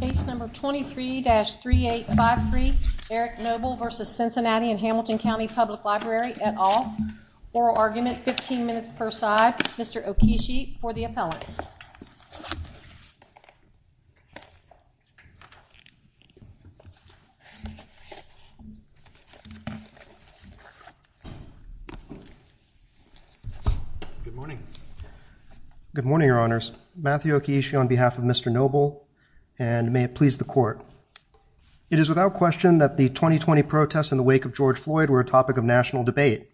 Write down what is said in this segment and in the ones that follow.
Case number 23-3853, Eric Noble versus Cincinnati and Hamilton County Public Library et al. Oral argument, 15 minutes per side. Mr. Okishi for the appellant. Good morning. Good morning, Your Honors. Matthew Okishi on behalf of Mr. Noble, and may it please the court. It is without question that the 2020 protests in the wake of George Floyd were a topic of national debate.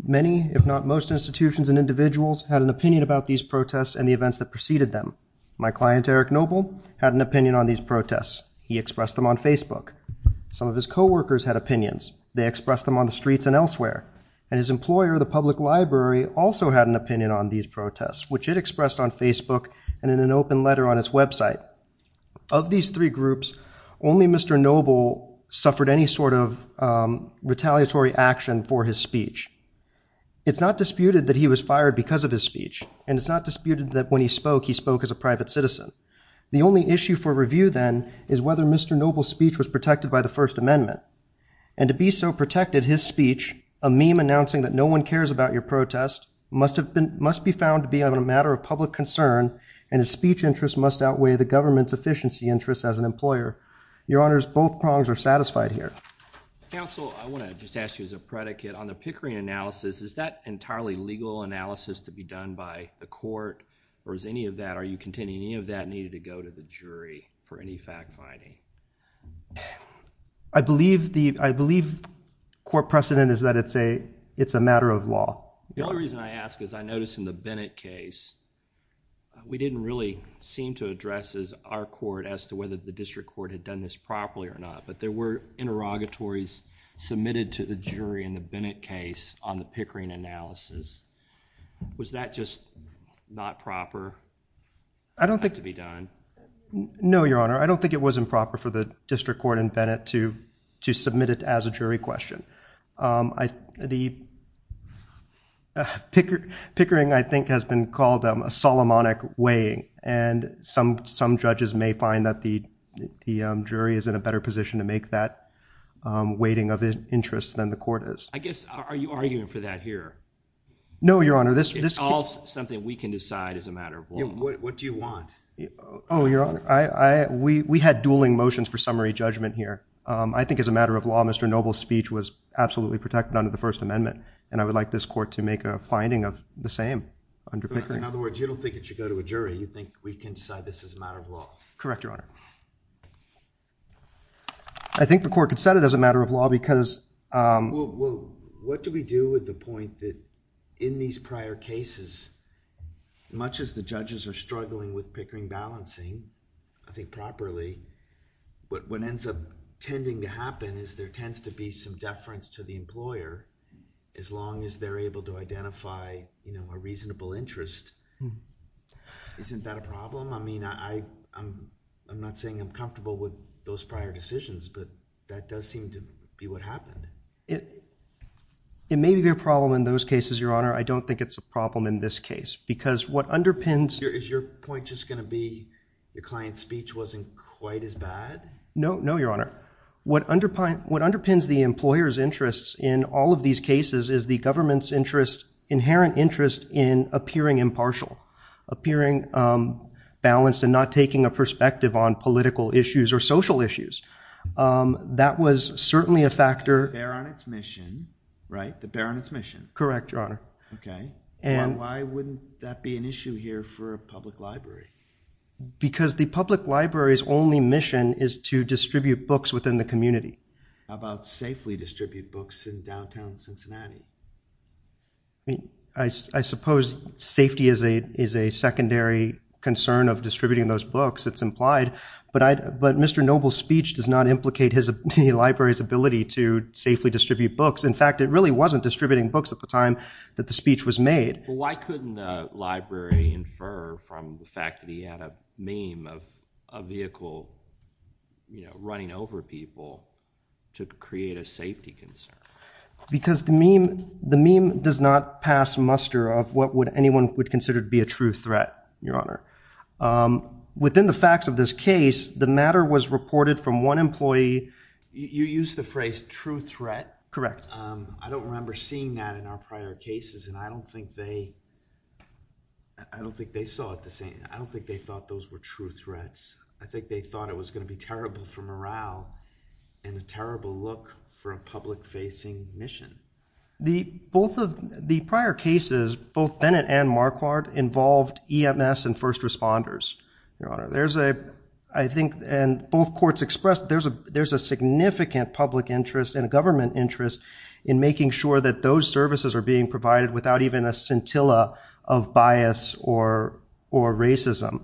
Many, if not most, institutions and individuals had an opinion about these protests and the events that preceded them. My client, Eric Noble, had an opinion on these protests. He expressed them on Facebook. Some of his co-workers had opinions. They expressed them on the streets and elsewhere. And his employer, the public library, also had an opinion on these protests, which it expressed on Facebook and in an open letter on its website. Of these three groups, only Mr. Noble suffered any sort of retaliatory action for his speech. It's not disputed that he was fired because of his speech. And it's not disputed that when he spoke, he spoke as a private citizen. The only issue for review, then, is whether Mr. Noble's speech was protected by the First Amendment. And to be so protected, his speech, a meme announcing that no one cares about your protest, must be found to be a matter of public concern. And his speech interest must outweigh the government's efficiency interest as an employer. Your Honors, both prongs are satisfied here. Counsel, I want to just ask you as a predicate. On the Pickering analysis, is that entirely legal analysis to be done by the court? Or is any of that, are you contending any of that needed to go to the jury for any fact finding? I believe court precedent is that it's a matter of law. The only reason I ask is I notice in the Bennett case, we didn't really seem to address our court as to whether the district court had done this properly or not. But there were interrogatories submitted to the jury in the Bennett case on the Pickering analysis. Was that just not proper? I don't think to be done. No, Your Honor. I don't think it wasn't proper for the district court in Bennett to submit it as a jury question. Pickering, I think, has been called a Solomonic weighing. And some judges may find that the jury is in a better position to make that weighting of interest than the court is. I guess, are you arguing for that here? No, Your Honor. It's all something we can decide as a matter of law. What do you want? Oh, Your Honor, we had dueling motions for summary judgment here. I think as a matter of law, Mr. Noble's speech was absolutely protected under the First Amendment. And I would like this court to make a finding of the same under Pickering. In other words, you don't think it should go to a jury. You think we can decide this as a matter of law. Correct, Your Honor. I think the court could set it as a matter of law, because, um, Well, what do we do with the point that in these prior cases, much as the judges are struggling with Pickering balancing, I think, properly, what ends up tending to happen is there tends to be some deference to the employer, as long as they're able to identify a reasonable interest. Isn't that a problem? I mean, I'm not saying I'm comfortable with those prior decisions. But that does seem to be what happened. It may be a problem in those cases, Your Honor. I don't think it's a problem in this case. Because what underpins Is your point just going to be your client's speech wasn't quite as bad? No, no, Your Honor. What underpins the employer's interests in all of these cases is the government's interest, inherent interest, in appearing impartial, appearing balanced and not taking a perspective on political issues or social issues. That was certainly a factor. The bear on its mission, right? The bear on its mission. Correct, Your Honor. OK. Why wouldn't that be an issue here for a public library? Because the public library's only mission is to distribute books within the community. How about safely distribute books in downtown Cincinnati? I suppose safety is a secondary concern of distributing those books. It's implied. But Mr. Noble's speech does not implicate the library's ability to safely distribute books. In fact, it really wasn't distributing books at the time that the speech was made. Well, why couldn't the library infer from the fact that he had a meme of a vehicle running over people to create a safety concern? Because the meme does not pass muster of what anyone would consider to be a true threat, Your Honor. Within the facts of this case, the matter was reported from one employee. You used the phrase true threat. Correct. I don't remember seeing that in our prior cases, and I don't think they saw it the same. I don't think they thought those were true threats. I think they thought it was going to be terrible for morale and a terrible look for a public-facing mission. The prior cases, both Bennett and Marquardt, involved EMS and first responders, Your Honor. There's a, I think, and both courts expressed, there's a significant public interest and a government interest in making sure that those services are being provided without even a scintilla of bias or racism.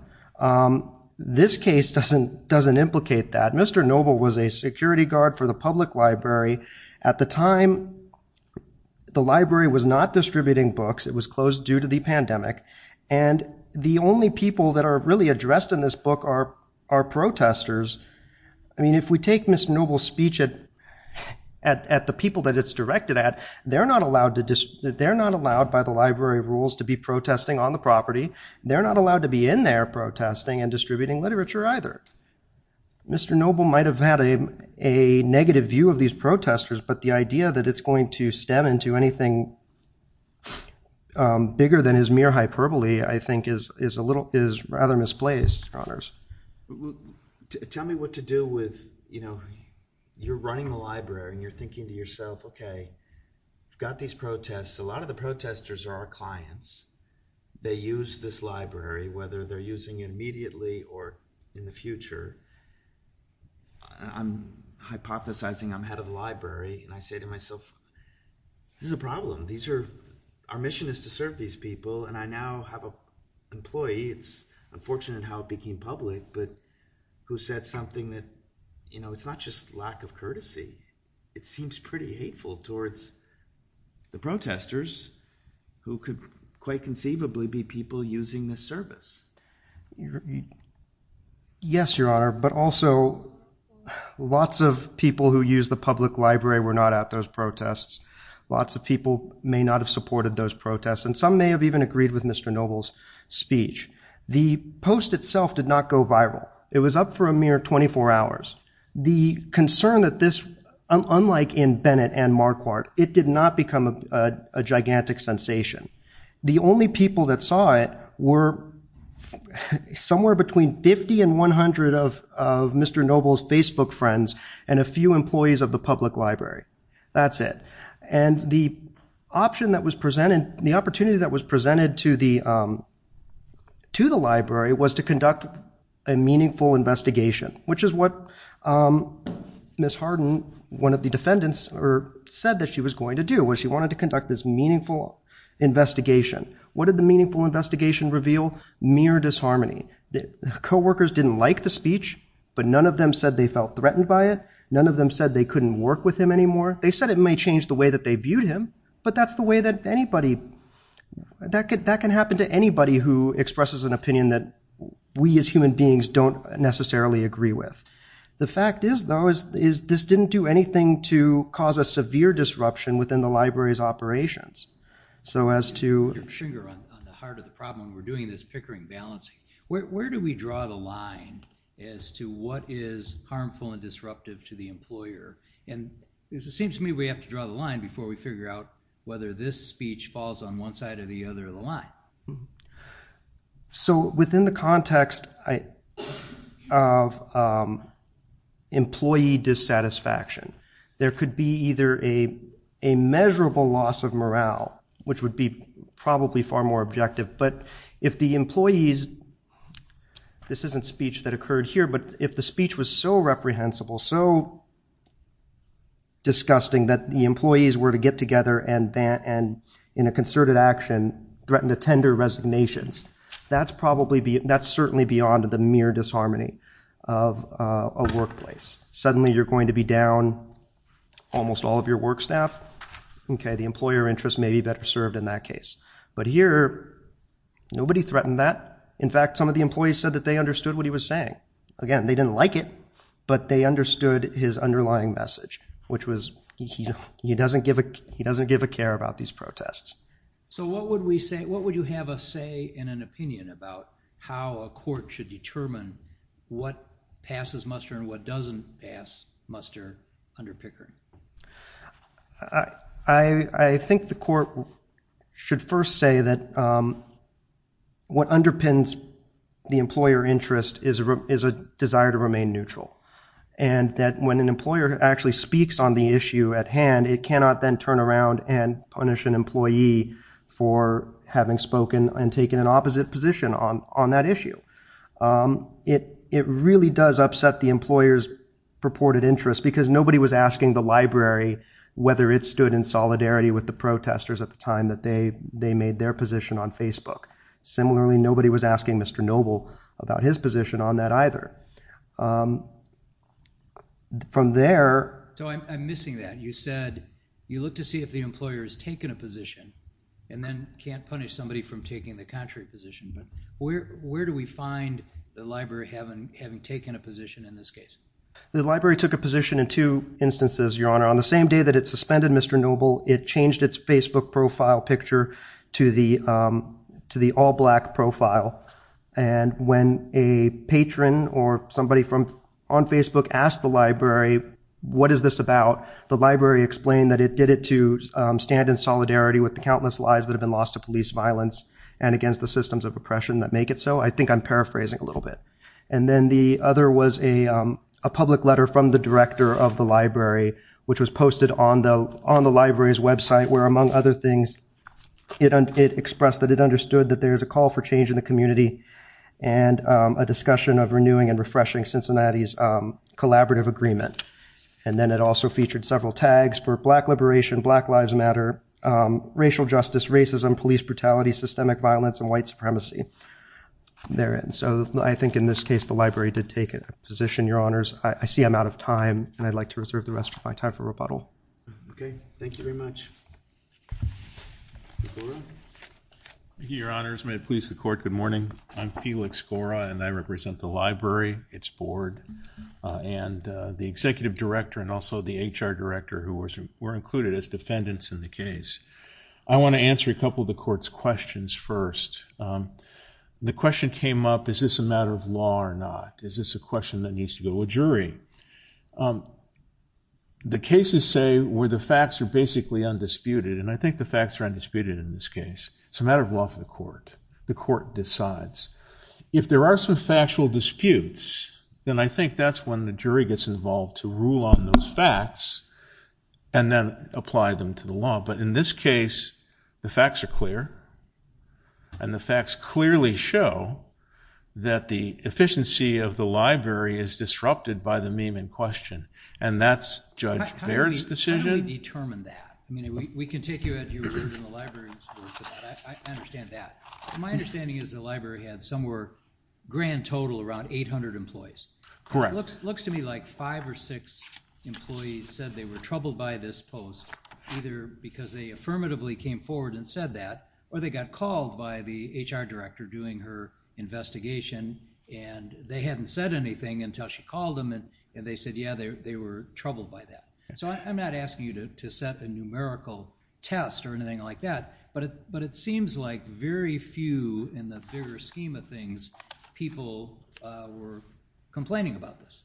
This case doesn't implicate that. Mr. Noble was a security guard for the public library. At the time, the library was not distributing books. It was closed due to the pandemic. And the only people that are really addressed in this book are protesters. I mean, if we take Mr. Noble's speech at the people that it's directed at, they're not allowed by the library rules to be protesting on the property. They're not allowed to be in there protesting and distributing literature either. Mr. Noble might have had a negative view of these protesters, but the idea that it's going to stem into anything bigger than his mere hyperbole, I think, is rather misplaced, Your Honors. Tell me what to do with, you know, you're running the library and you're thinking to yourself, OK, we've got these protests. A lot of the protesters are our clients. They use this library, whether they're using it immediately or in the future. I'm hypothesizing I'm head of the library, and I say to myself, this is a problem. These are, our mission is to serve these people, and I now have an employee. It's unfortunate how it became public, but who said something that, you know, it's not just lack of courtesy. It seems pretty hateful towards the protesters, who could quite conceivably be people using this service. Yes, Your Honor, but also lots of people who use the public library were not at those protests. Lots of people may not have supported those protests, and some may have even agreed with Mr. Noble's speech. The post itself did not go viral. It was up for a mere 24 hours. The concern that this, unlike in Bennett and Marquardt, it did not become a gigantic sensation. The only people that saw it were somewhere between 50 and 100 of Mr. Noble's Facebook friends and a few employees of the public library. That's it. And the option that was presented, the opportunity that was presented to the library was to conduct a meaningful investigation, which is what Ms. Harden, one of the defendants, said that she was going to do. She wanted to conduct this meaningful investigation. What did the meaningful investigation reveal? Mere disharmony. Coworkers didn't like the speech, but none of them said they felt threatened by it. None of them said they couldn't work with him anymore. They said it may change the way that they viewed him, but that's the way that anybody, that can happen to anybody who expresses an opinion that we as human beings don't necessarily agree with. The fact is, though, is this didn't do anything to cause a severe disruption within the library's So as to your trigger on the heart of the problem when we're doing this Pickering balancing, where do we draw the line as to what is harmful and disruptive to the employer? And it seems to me we have to draw the line before we figure out whether this speech falls on one side or the other of the line. So within the context of employee dissatisfaction, there could be either a measurable loss of morale, which would be probably far more objective. But if the employees, this isn't speech that occurred here, but if the speech was so reprehensible, so disgusting, that the employees were to get together and in a concerted action, threaten to tender resignations, that's certainly beyond the mere disharmony of a workplace. Suddenly you're going to be down almost all of your work staff. The employer interest may be better served in that case. But here, nobody threatened that. In fact, some of the employees said that they understood what he was saying. Again, they didn't like it, but they understood his underlying message, which was he doesn't give a care about these protests. So what would you have a say and an opinion about how a court should determine what passes muster and what doesn't pass muster under Pickering? I think the court should first say that what underpins the employer interest is a desire to remain neutral. And that when an employer actually speaks on the issue at hand, it cannot then turn around and punish an employee for having spoken and taken an opposite position on that issue. It really does upset the employer's purported interest, because nobody was asking the library whether it stood in solidarity with the protesters at the time that they made their position on Facebook. Similarly, nobody was asking Mr. Noble about his position on that either. From there. So I'm missing that. You look to see if the employer has taken a position and then can't punish somebody from taking the contrary position. But where do we find the library having taken a position in this case? The library took a position in two instances, Your Honor. On the same day that it suspended Mr. Noble, it changed its Facebook profile picture to the all black profile. And when a patron or somebody on Facebook asked the library, what is this about? The library explained that it did it to stand in solidarity with the countless lives that have been lost to police violence and against the systems of oppression that make it so. I think I'm paraphrasing a little bit. And then the other was a public letter from the director of the library, which was posted on the library's website, where among other things, it expressed that it understood that there is a call for change in the community and a discussion of renewing and refreshing Cincinnati's collaborative agreement. And then it also featured several tags for black liberation, Black Lives Matter, racial justice, racism, police brutality, systemic violence, and white supremacy therein. So I think in this case, the library did take a position, Your Honors. I see I'm out of time, and I'd like to reserve the rest of my time for rebuttal. OK. Thank you very much. Your Honors, may it please the court, good morning. I'm Felix Gora, and I represent the library, its board, and the executive director, and also the HR director who were included as defendants in the case. I want to answer a couple of the court's questions first. The question came up, is this a matter of law or not? Is this a question that needs to go to a jury? The cases say where the facts are basically undisputed, and I think the facts are undisputed in this case. It's a matter of law for the court. The court decides. If there are some factual disputes, then I think that's when the jury gets involved to rule on those facts, and then apply them to the law. But in this case, the facts are clear, and the facts clearly show that the efficiency of the library is disrupted by the meme in question, and that's Judge Baird's decision. How do we determine that? I mean, we can take you as you were in the library's work, but I understand that. My understanding is the library had somewhere grand total around 800 employees. Correct. Looks to me like five or six employees said they were troubled by this post, either because they affirmatively came forward and said that, or they got called by the HR director doing her investigation, and they hadn't said anything until she called them, and they said, yeah, they were troubled by that. So I'm not asking you to set a numerical test or anything like that, but it seems like very few in the bigger scheme of things people were complaining about this.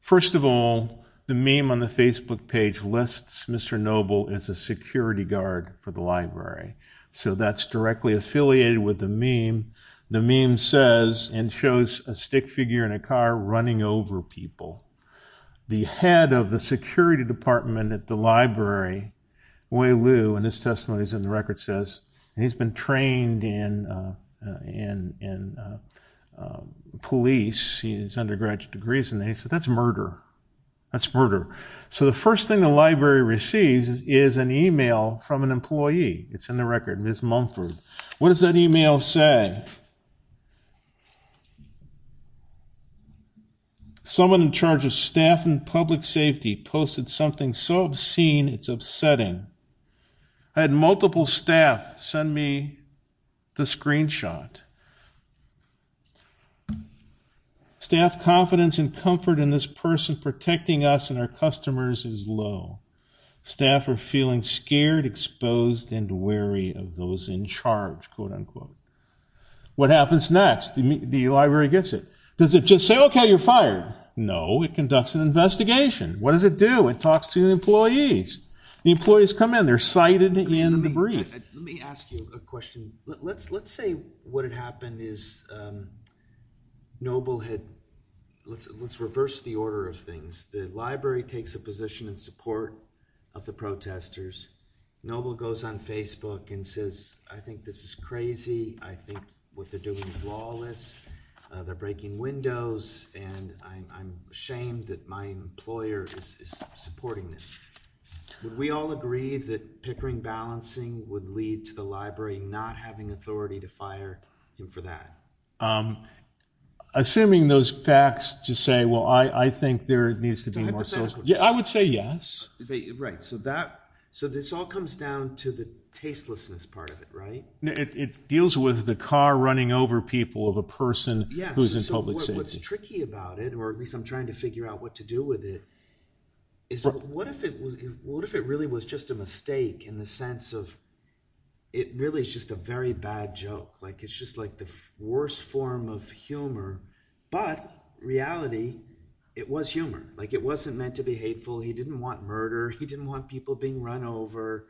First of all, the meme on the Facebook page lists Mr. Noble as a security guard for the library. So that's directly affiliated with the meme. The meme says, and shows a stick figure in a car running over people. The head of the security department at the library, Wei Liu, and his testimony is in the record, and he's been trained in police, his undergraduate degrees, and he said, that's murder. That's murder. So the first thing the library receives is an email from an employee. It's in the record, Ms. Mumford. What does that email say? Someone in charge of staff and public safety posted something so obscene it's upsetting. I had multiple staff send me the screenshot. Staff confidence and comfort in this person protecting us and our customers is low. Staff are feeling scared, exposed, and wary of those in charge, quote unquote. What happens next? The library gets it. Does it just say, OK, you're fired? No, it conducts an investigation. What does it do? It talks to the employees. The employees come in. They're cited in the brief. Let me ask you a question. Let's say what had happened is Noble had, let's reverse the order of things. The library takes a position in support of the protesters. Noble goes on Facebook and says, I think this is crazy. I think what they're doing is lawless. They're breaking windows, and I'm ashamed that my employer is supporting this. Would we all agree that pickering balancing would lead to the library not having authority to fire him for that? Assuming those facts to say, well, I think there needs to be more social. I would say yes. Right, so this all comes down to the tastelessness part of it, right? It deals with the car running over people of a person who is in public safety. What's tricky about it, or at least I'm trying to figure out what to do with it, is what if it really was just a mistake in the sense of it really is just a very bad joke? It's just the worst form of humor. But reality, it was humor. It wasn't meant to be hateful. He didn't want murder. He didn't want people being run over.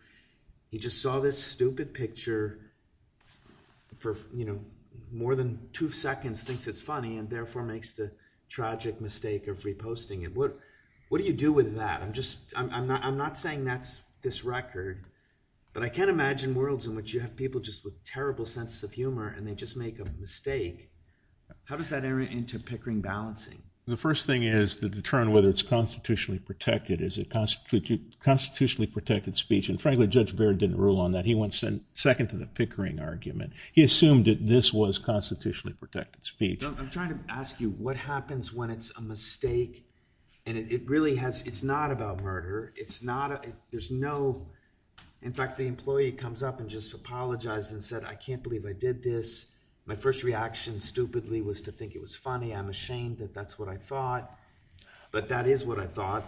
He just saw this stupid picture for more than two seconds, thinks it's funny, and therefore makes the tragic mistake of reposting it. What do you do with that? I'm not saying that's this record, but I can't imagine worlds in which you have people just with terrible sense of humor, and they just make a mistake. How does that enter into pickering balancing? The first thing is to determine whether it's constitutionally protected. Is it constitutionally protected speech? And frankly, Judge Baird didn't rule on that. He went second to the pickering argument. He assumed that this was constitutionally protected speech. I'm trying to ask you, what happens when it's a mistake? And it's not about murder. There's no, in fact, the employee comes up and just apologized and said, I can't believe I did this. My first reaction, stupidly, was to think it was funny. I'm ashamed that that's what I thought. But that is what I thought,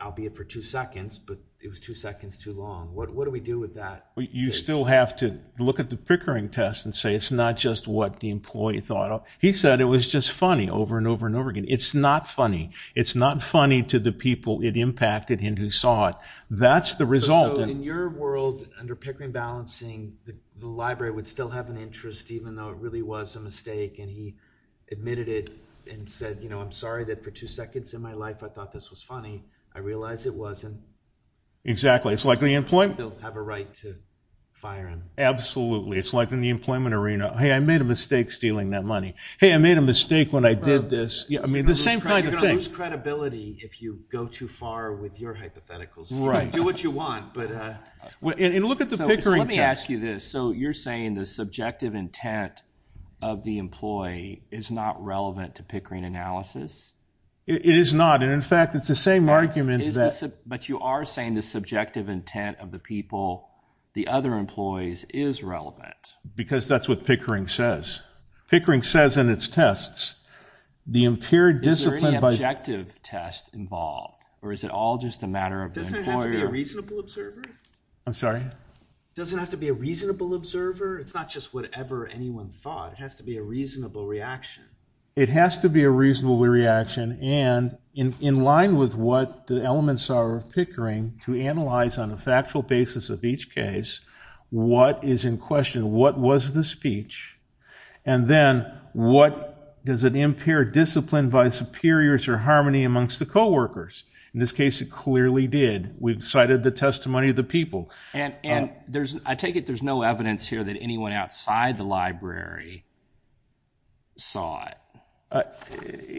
albeit for two seconds. But it was two seconds too long. What do we do with that? You still have to look at the pickering test and say it's not just what the employee thought. He said it was just funny over and over and over again. It's not funny. It's not funny to the people it impacted and who saw it. That's the result. So in your world, under pickering balancing, the library would still have an interest, even though it really was a mistake. And he admitted it and said, I'm sorry that for two seconds in my life I thought this was funny. I realize it wasn't. Exactly. It's like the employment. They'll have a right to fire him. Absolutely. It's like in the employment arena, hey, I made a mistake stealing that money. Hey, I made a mistake when I did this. I mean, the same kind of thing. You're going to lose credibility if you go too far with your hypotheticals. Do what you want. And look at the pickering test. Let me ask you this. So you're saying the subjective intent of the employee is not relevant to pickering analysis? It is not. And in fact, it's the same argument that. But you are saying the subjective intent of the people, the other employees, is relevant. Because that's what pickering says. Pickering says in its tests, the impaired discipline by. Is there any objective test involved? Or is it all just a matter of the employer? Doesn't it have to be a reasonable observer? I'm sorry? Doesn't it have to be a reasonable observer? It's not just whatever anyone thought. It has to be a reasonable reaction. It has to be a reasonable reaction. And in line with what the elements are of pickering, to analyze on a factual basis of each case what is in question, what was the speech? And then, what does an impaired discipline by superiors or harmony amongst the co-workers? In this case, it clearly did. We've cited the testimony of the people. And I take it there's no evidence here that anyone outside the library saw it.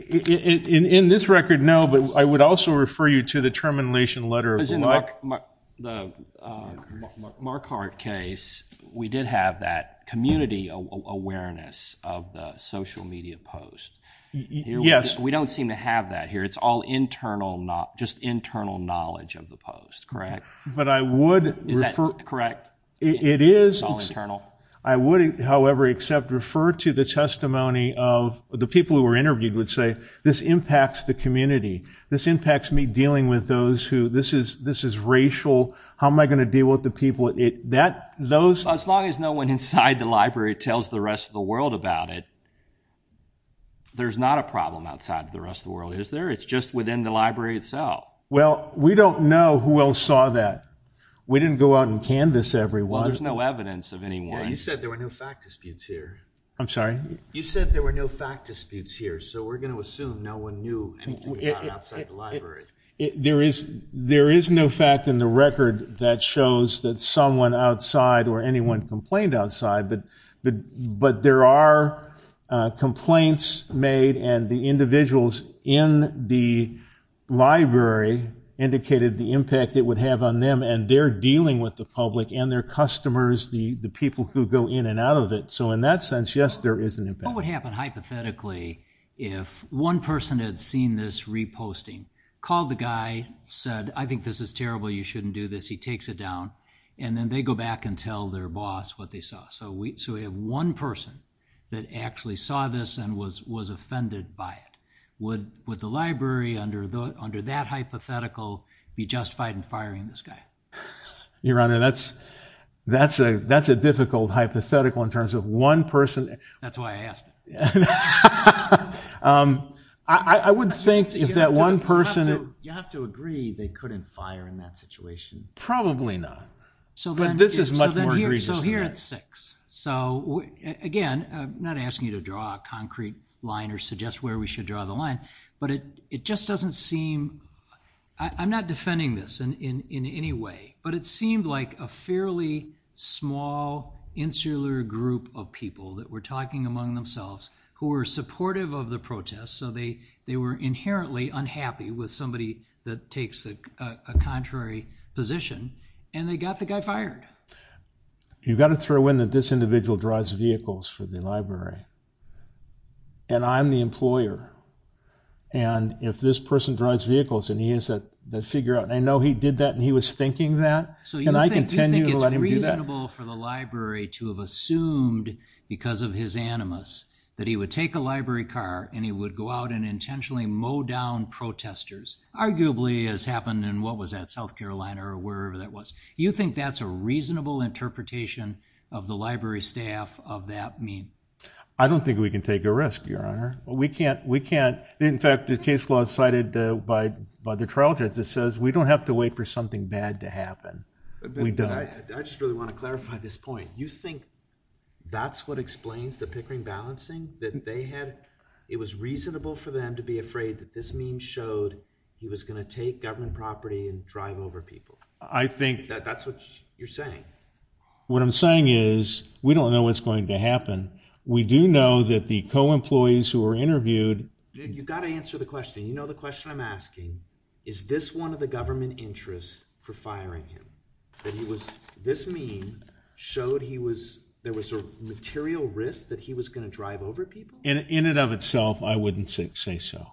In this record, no. But I would also refer you to the termination letter. Because in the Markhart case, we did have that community awareness of the social media post. We don't seem to have that here. It's all just internal knowledge of the post, correct? But I would refer to the testimony of the people who were interviewed would say, this impacts the community. This impacts me dealing with those who, this is racial. How am I going to deal with the people? As long as no one inside the library tells the rest of the world about it, there's not a problem outside of the rest of the world, is there? It's just within the library itself. Well, we don't know who else saw that. We didn't go out and canvas everyone. Well, there's no evidence of anyone. You said there were no fact disputes here. I'm sorry? You said there were no fact disputes here. So we're going to assume no one knew anything about outside the library. There is no fact in the record that shows that someone outside or anyone complained outside. But there are complaints made. And the individuals in the library indicated the impact it would have on them. And they're dealing with the public and their customers, the people who go in and out of it. So in that sense, yes, there is an impact. What would happen hypothetically if one person had seen this reposting, called the guy, said, I think this is terrible. You shouldn't do this. He takes it down. And then they go back and tell their boss what they saw. So we have one person that actually saw this and was offended by it. Would the library, under that hypothetical, be justified in firing this guy? Your Honor, that's a difficult hypothetical in terms of one person. That's why I asked. Yeah. I would think if that one person had. You have to agree they couldn't fire in that situation. Probably not. But this is much more egregious than that. So here at 6. So again, I'm not asking you to draw a concrete line or suggest where we should draw the line. But it just doesn't seem. I'm not defending this in any way. But it seemed like a fairly small, insular group of people that were talking among themselves, who were supportive of the protest. So they were inherently unhappy with somebody that takes a contrary position. And they got the guy fired. You've got to throw in that this individual drives vehicles for the library. And I'm the employer. And if this person drives vehicles and he has that figure out, and I know he did that and he was thinking that. So you think it's reasonable for the library to have assumed, because of his animus, that he would take a library car and he would go out and intentionally mow down protesters, arguably as happened in, what was that, South Carolina or wherever that was? You think that's a reasonable interpretation of the library staff of that meme? I don't think we can take a risk, Your Honor. We can't. In fact, the case law is cited by the trial judge that says we don't have to wait for something bad to happen. We don't. I just really want to clarify this point. You think that's what explains the Pickering balancing, that it was reasonable for them to be afraid that this meme showed he was going to take government property and drive over people? I think that's what you're saying. What I'm saying is we don't know what's going to happen. We do know that the co-employees who were interviewed. You've got to answer the question. You know the question I'm asking. Is this one of the government interests for firing him? That this meme showed there was a material risk that he was going to drive over people? In and of itself, I wouldn't say so.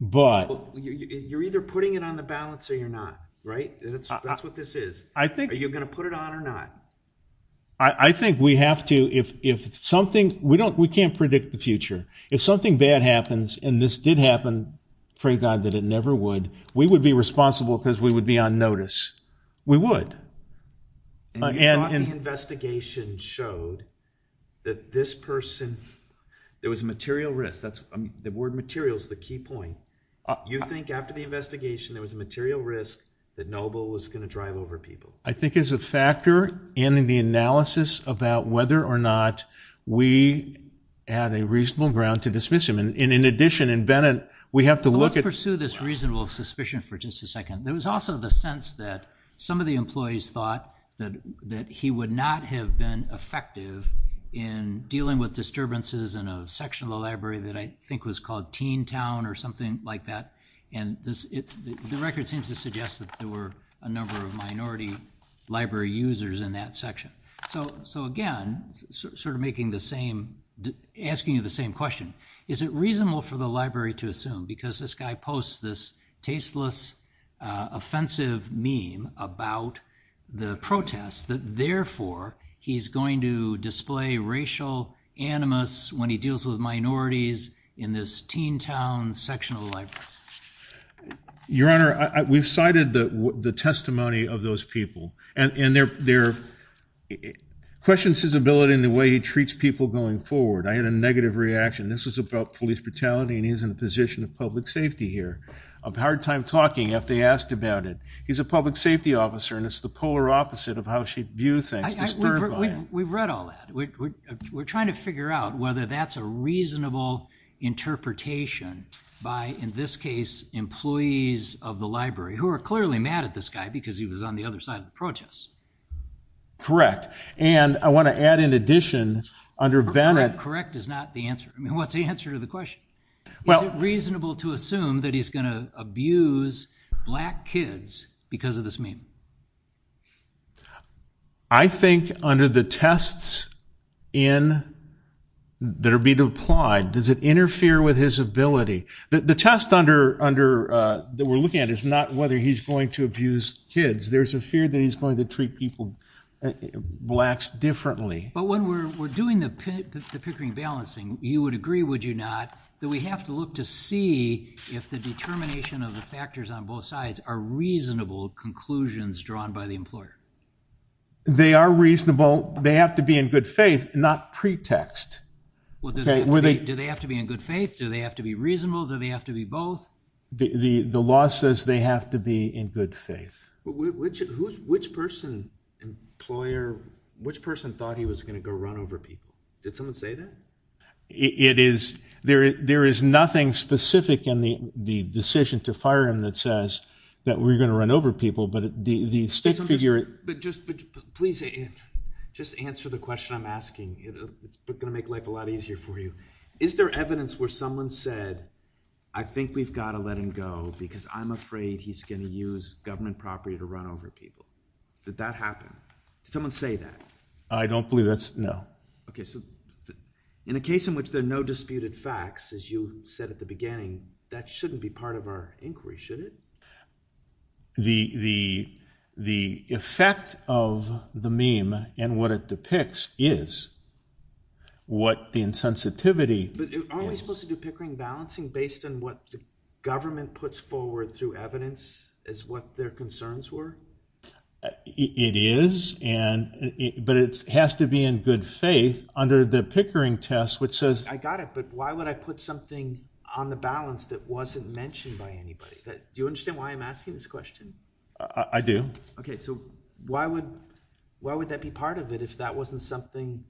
But you're either putting it on the balance or you're not, right? That's what this is. I think. Are you going to put it on or not? I think we have to. If something, we can't predict the future. If something bad happens, and this did happen, pray God that it never would, we would be responsible because we would be on notice. We would. And you thought the investigation showed that this person, there was a material risk. The word material is the key point. You think after the investigation, there was a material risk that Noble was going to drive over people? I think as a factor in the analysis about whether or not we had a reasonable ground to dismiss him. And in addition, in Bennett, we have to look at. Let's pursue this reasonable suspicion for just a second. There was also the sense that some of the employees thought that he would not have been effective in dealing with disturbances in a section of the library that I think was called Teen Town or something like that. And the record seems to suggest that there were a number of minority library users in that section. So again, sort of asking you the same question. Is it reasonable for the library to assume? Because this guy posts this tasteless, offensive meme about the protests that therefore he's going to display racial animus when he deals with minorities in this Teen Town section of the library. Your Honor, we've cited the testimony of those people. And there questions his ability in the way he treats people going forward. I had a negative reaction. This was about police brutality, and he's in the position of public safety here, of hard time talking if they asked about it. He's a public safety officer, and it's the polar opposite of how she views things, disturbed by it. We've read all that. We're trying to figure out whether that's a reasonable interpretation by, in this case, employees of the library who are clearly mad at this guy because he was on the other side of the protests. Correct. And I want to add in addition, under Bennett. Correct is not the answer. What's the answer to the question? Is it reasonable to assume that he's going to abuse black kids because of this meme? I think under the tests that are being applied, does it interfere with his ability? The test that we're looking at is not whether he's going to abuse kids. There's a fear that he's going to treat blacks differently. But when we're doing the Pickering balancing, you would agree, would you not, that we have to look to see if the determination of the factors on both sides are reasonable conclusions drawn by the employer. They are reasonable. They have to be in good faith, not pretext. Do they have to be in good faith? Do they have to be reasonable? Do they have to be both? The law says they have to be in good faith. Which person thought he was going to go run over people? Did someone say that? There is nothing specific in the decision to fire him that says that we're going to run over people. But the state figure it. But just please, just answer the question I'm asking. It's going to make life a lot easier for you. Is there evidence where someone said, I think we've got to let him go because I'm afraid he's going to use government property to run over people? Did that happen? Did someone say that? I don't believe that's, no. OK, so in a case in which there are no disputed facts, as you said at the beginning, that shouldn't be part of our inquiry, should it? The effect of the meme and what it depicts is what the insensitivity is. But aren't we supposed to do pickering balancing based on what the government puts forward through evidence as what their concerns were? It is. But it has to be in good faith under the pickering test, which says I got it, but why would I put something on the balance that wasn't mentioned by anybody? Do you understand why I'm asking this question? I do. OK, so why would that be part of it if that wasn't something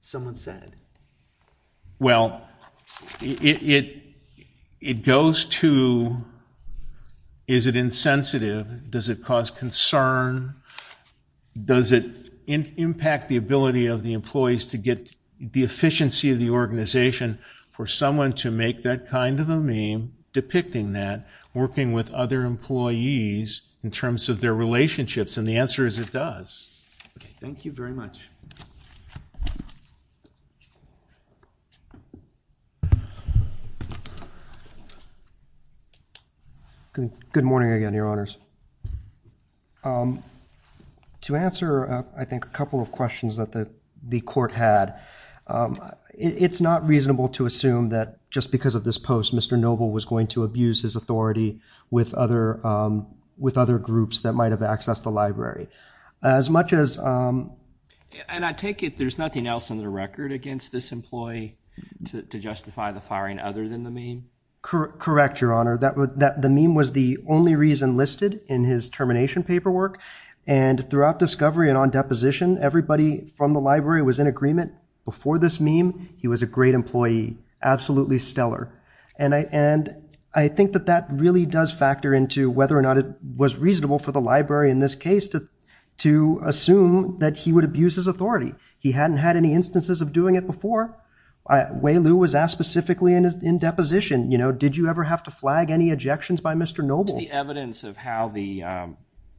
someone said? Well, it goes to, is it insensitive? Does it cause concern? Does it impact the ability of the employees to get the efficiency of the organization for someone to make that kind of a meme, depicting that, working with other employees in terms of their relationships? And the answer is it does. Thank you very much. Good morning again, Your Honors. To answer, I think, a couple of questions that the court had, it's not reasonable to assume that just because of this post, Mr. Noble was going to abuse his authority with other groups that might have accessed the library. As much as, um. And I take it there's nothing else on the record against this employee to justify the firing other than the meme? Correct, Your Honor. The meme was the only reason listed in his termination paperwork. And throughout discovery and on deposition, everybody from the library was in agreement. Before this meme, he was a great employee, absolutely stellar. And I think that that really does factor into whether or not it was reasonable for the library, in this case, to assume that he would abuse his authority. He hadn't had any instances of doing it before. Weilu was asked specifically in deposition, you know, did you ever have to flag any ejections by Mr. Noble? What was the evidence of how the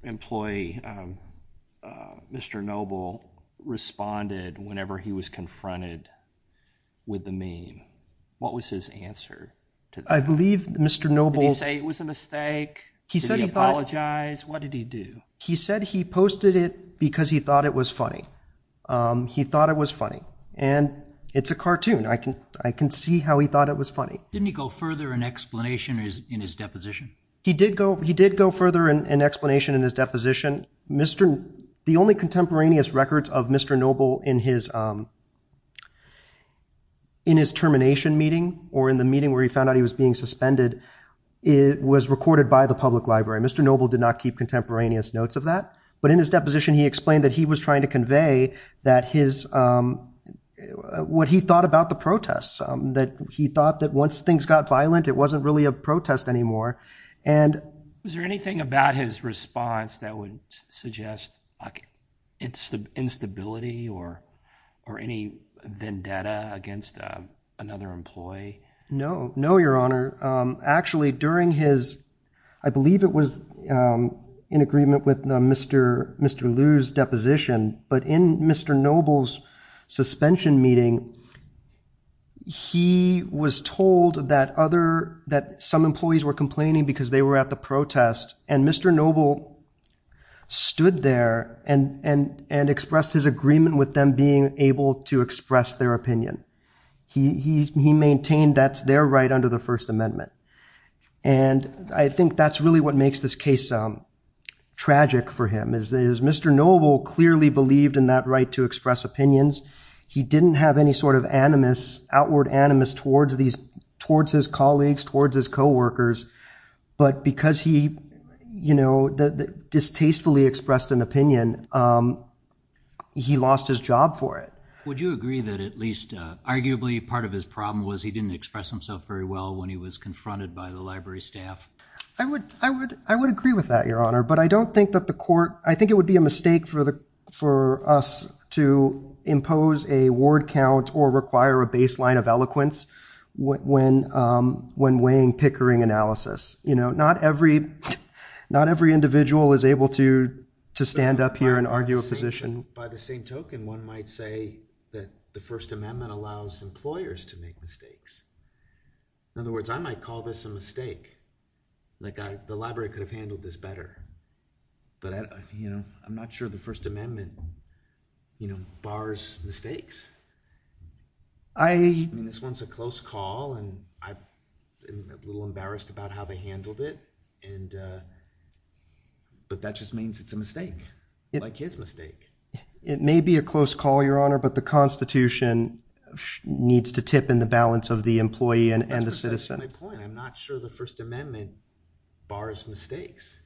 employee, Mr. Noble, responded whenever he was confronted with the meme? What was his answer to that? I believe Mr. Noble's. Did he say it was a mistake? He said he thought. Did he apologize? What did he do? He said he posted it because he thought it was funny. He thought it was funny. And it's a cartoon. I can see how he thought it was funny. Didn't he go further in explanation in his deposition? He did go further in explanation in his deposition. The only contemporaneous records of Mr. Noble in his termination meeting or in the meeting where he found out he was being suspended was recorded by the public library. Mr. Noble did not keep contemporaneous notes of that. But in his deposition, he explained that he was trying to convey what he thought about the protests, that he thought that once things got violent, it wasn't really a protest anymore. And was there anything about his response that would suggest instability or any vendetta against another employee? No, no, Your Honor. Actually, during his, I believe it was in agreement with Mr. Liu's deposition. But in Mr. Noble's suspension meeting, he was told that some employees were complaining because they were at the protest. And Mr. Noble stood there and expressed his agreement with them being able to express their opinion. He maintained that's their right under the First Amendment. And I think that's really what makes this case tragic for him. As Mr. Noble clearly believed in that right to express opinions, he didn't have any sort of outward animus towards his colleagues, towards his co-workers. But because he distastefully expressed an opinion, he lost his job for it. Would you agree that at least arguably part of his problem was he didn't express himself very well when he was confronted by the library staff? I would agree with that, Your Honor. But I don't think that the court, I think it would be a mistake for us to impose a ward count or require a baseline of eloquence when weighing Pickering analysis. Not every individual is able to stand up here and argue a position. By the same token, one might say that the First Amendment allows employers to make mistakes. In other words, I might call this a mistake. The library could have handled this better. But I'm not sure the First Amendment bars mistakes. This one's a close call, and I'm a little embarrassed about how they handled it. But that just means it's a mistake, like his mistake. It may be a close call, Your Honor, but the Constitution needs to tip in the balance of the employee and the citizen. That's precisely my point. And I'm not sure the First Amendment bars mistakes.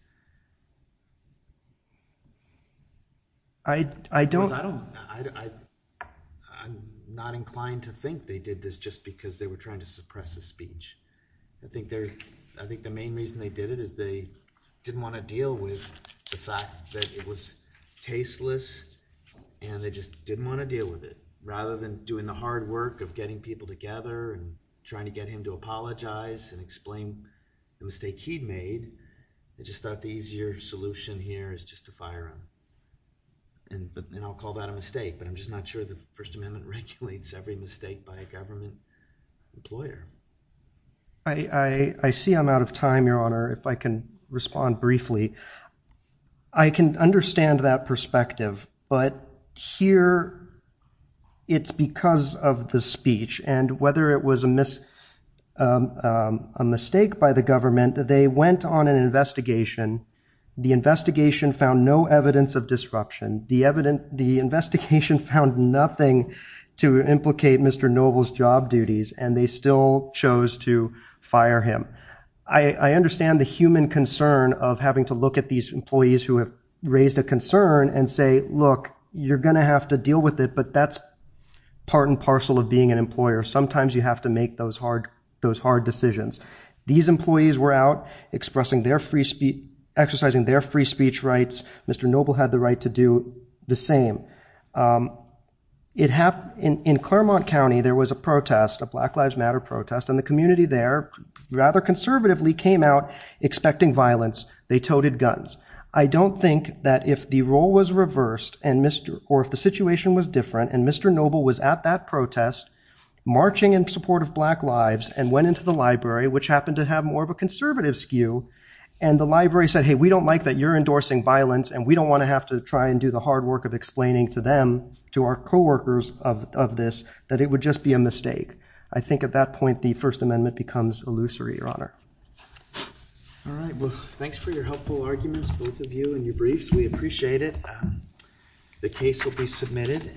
I'm not inclined to think they did this just because they were trying to suppress the speech. I think the main reason they did it is they didn't want to deal with the fact that it was tasteless, and they just didn't want to deal with it. Rather than doing the hard work of getting people together and trying to get him to apologize and explain the mistake he'd made, I just thought the easier solution here is just to fire him. And I'll call that a mistake, but I'm just not sure the First Amendment regulates every mistake by a government employer. I see I'm out of time, Your Honor, if I can respond briefly. I can understand that perspective, but here it's because of the speech. And whether it was a mistake by the government, they went on an investigation. The investigation found no evidence of disruption. The investigation found nothing to implicate Mr. Noble's job duties, and they still chose to fire him. I understand the human concern of having to look at these employees who have raised a concern and say, look, you're going to have to deal with it, but that's part and parcel of being an employer. Sometimes you have to make those hard decisions. These employees were out exercising their free speech rights. Mr. Noble had the right to do the same. In Claremont County, there was a protest, a Black Lives Matter protest, and the community there rather conservatively came out expecting violence. They toted guns. I don't think that if the role was reversed or if the situation was different and Mr. Noble was at that protest marching in support of black lives and went into the library, which happened to have more of a conservative skew, and the library said, hey, we don't like that you're endorsing violence, and we don't want to have to try and do the hard work of explaining to them, to our co-workers of this, that it would just be a mistake. I think at that point, the First Amendment becomes illusory, All right, well, thanks for your helpful arguments, both of you, and your briefs. We appreciate it. The case will be submitted.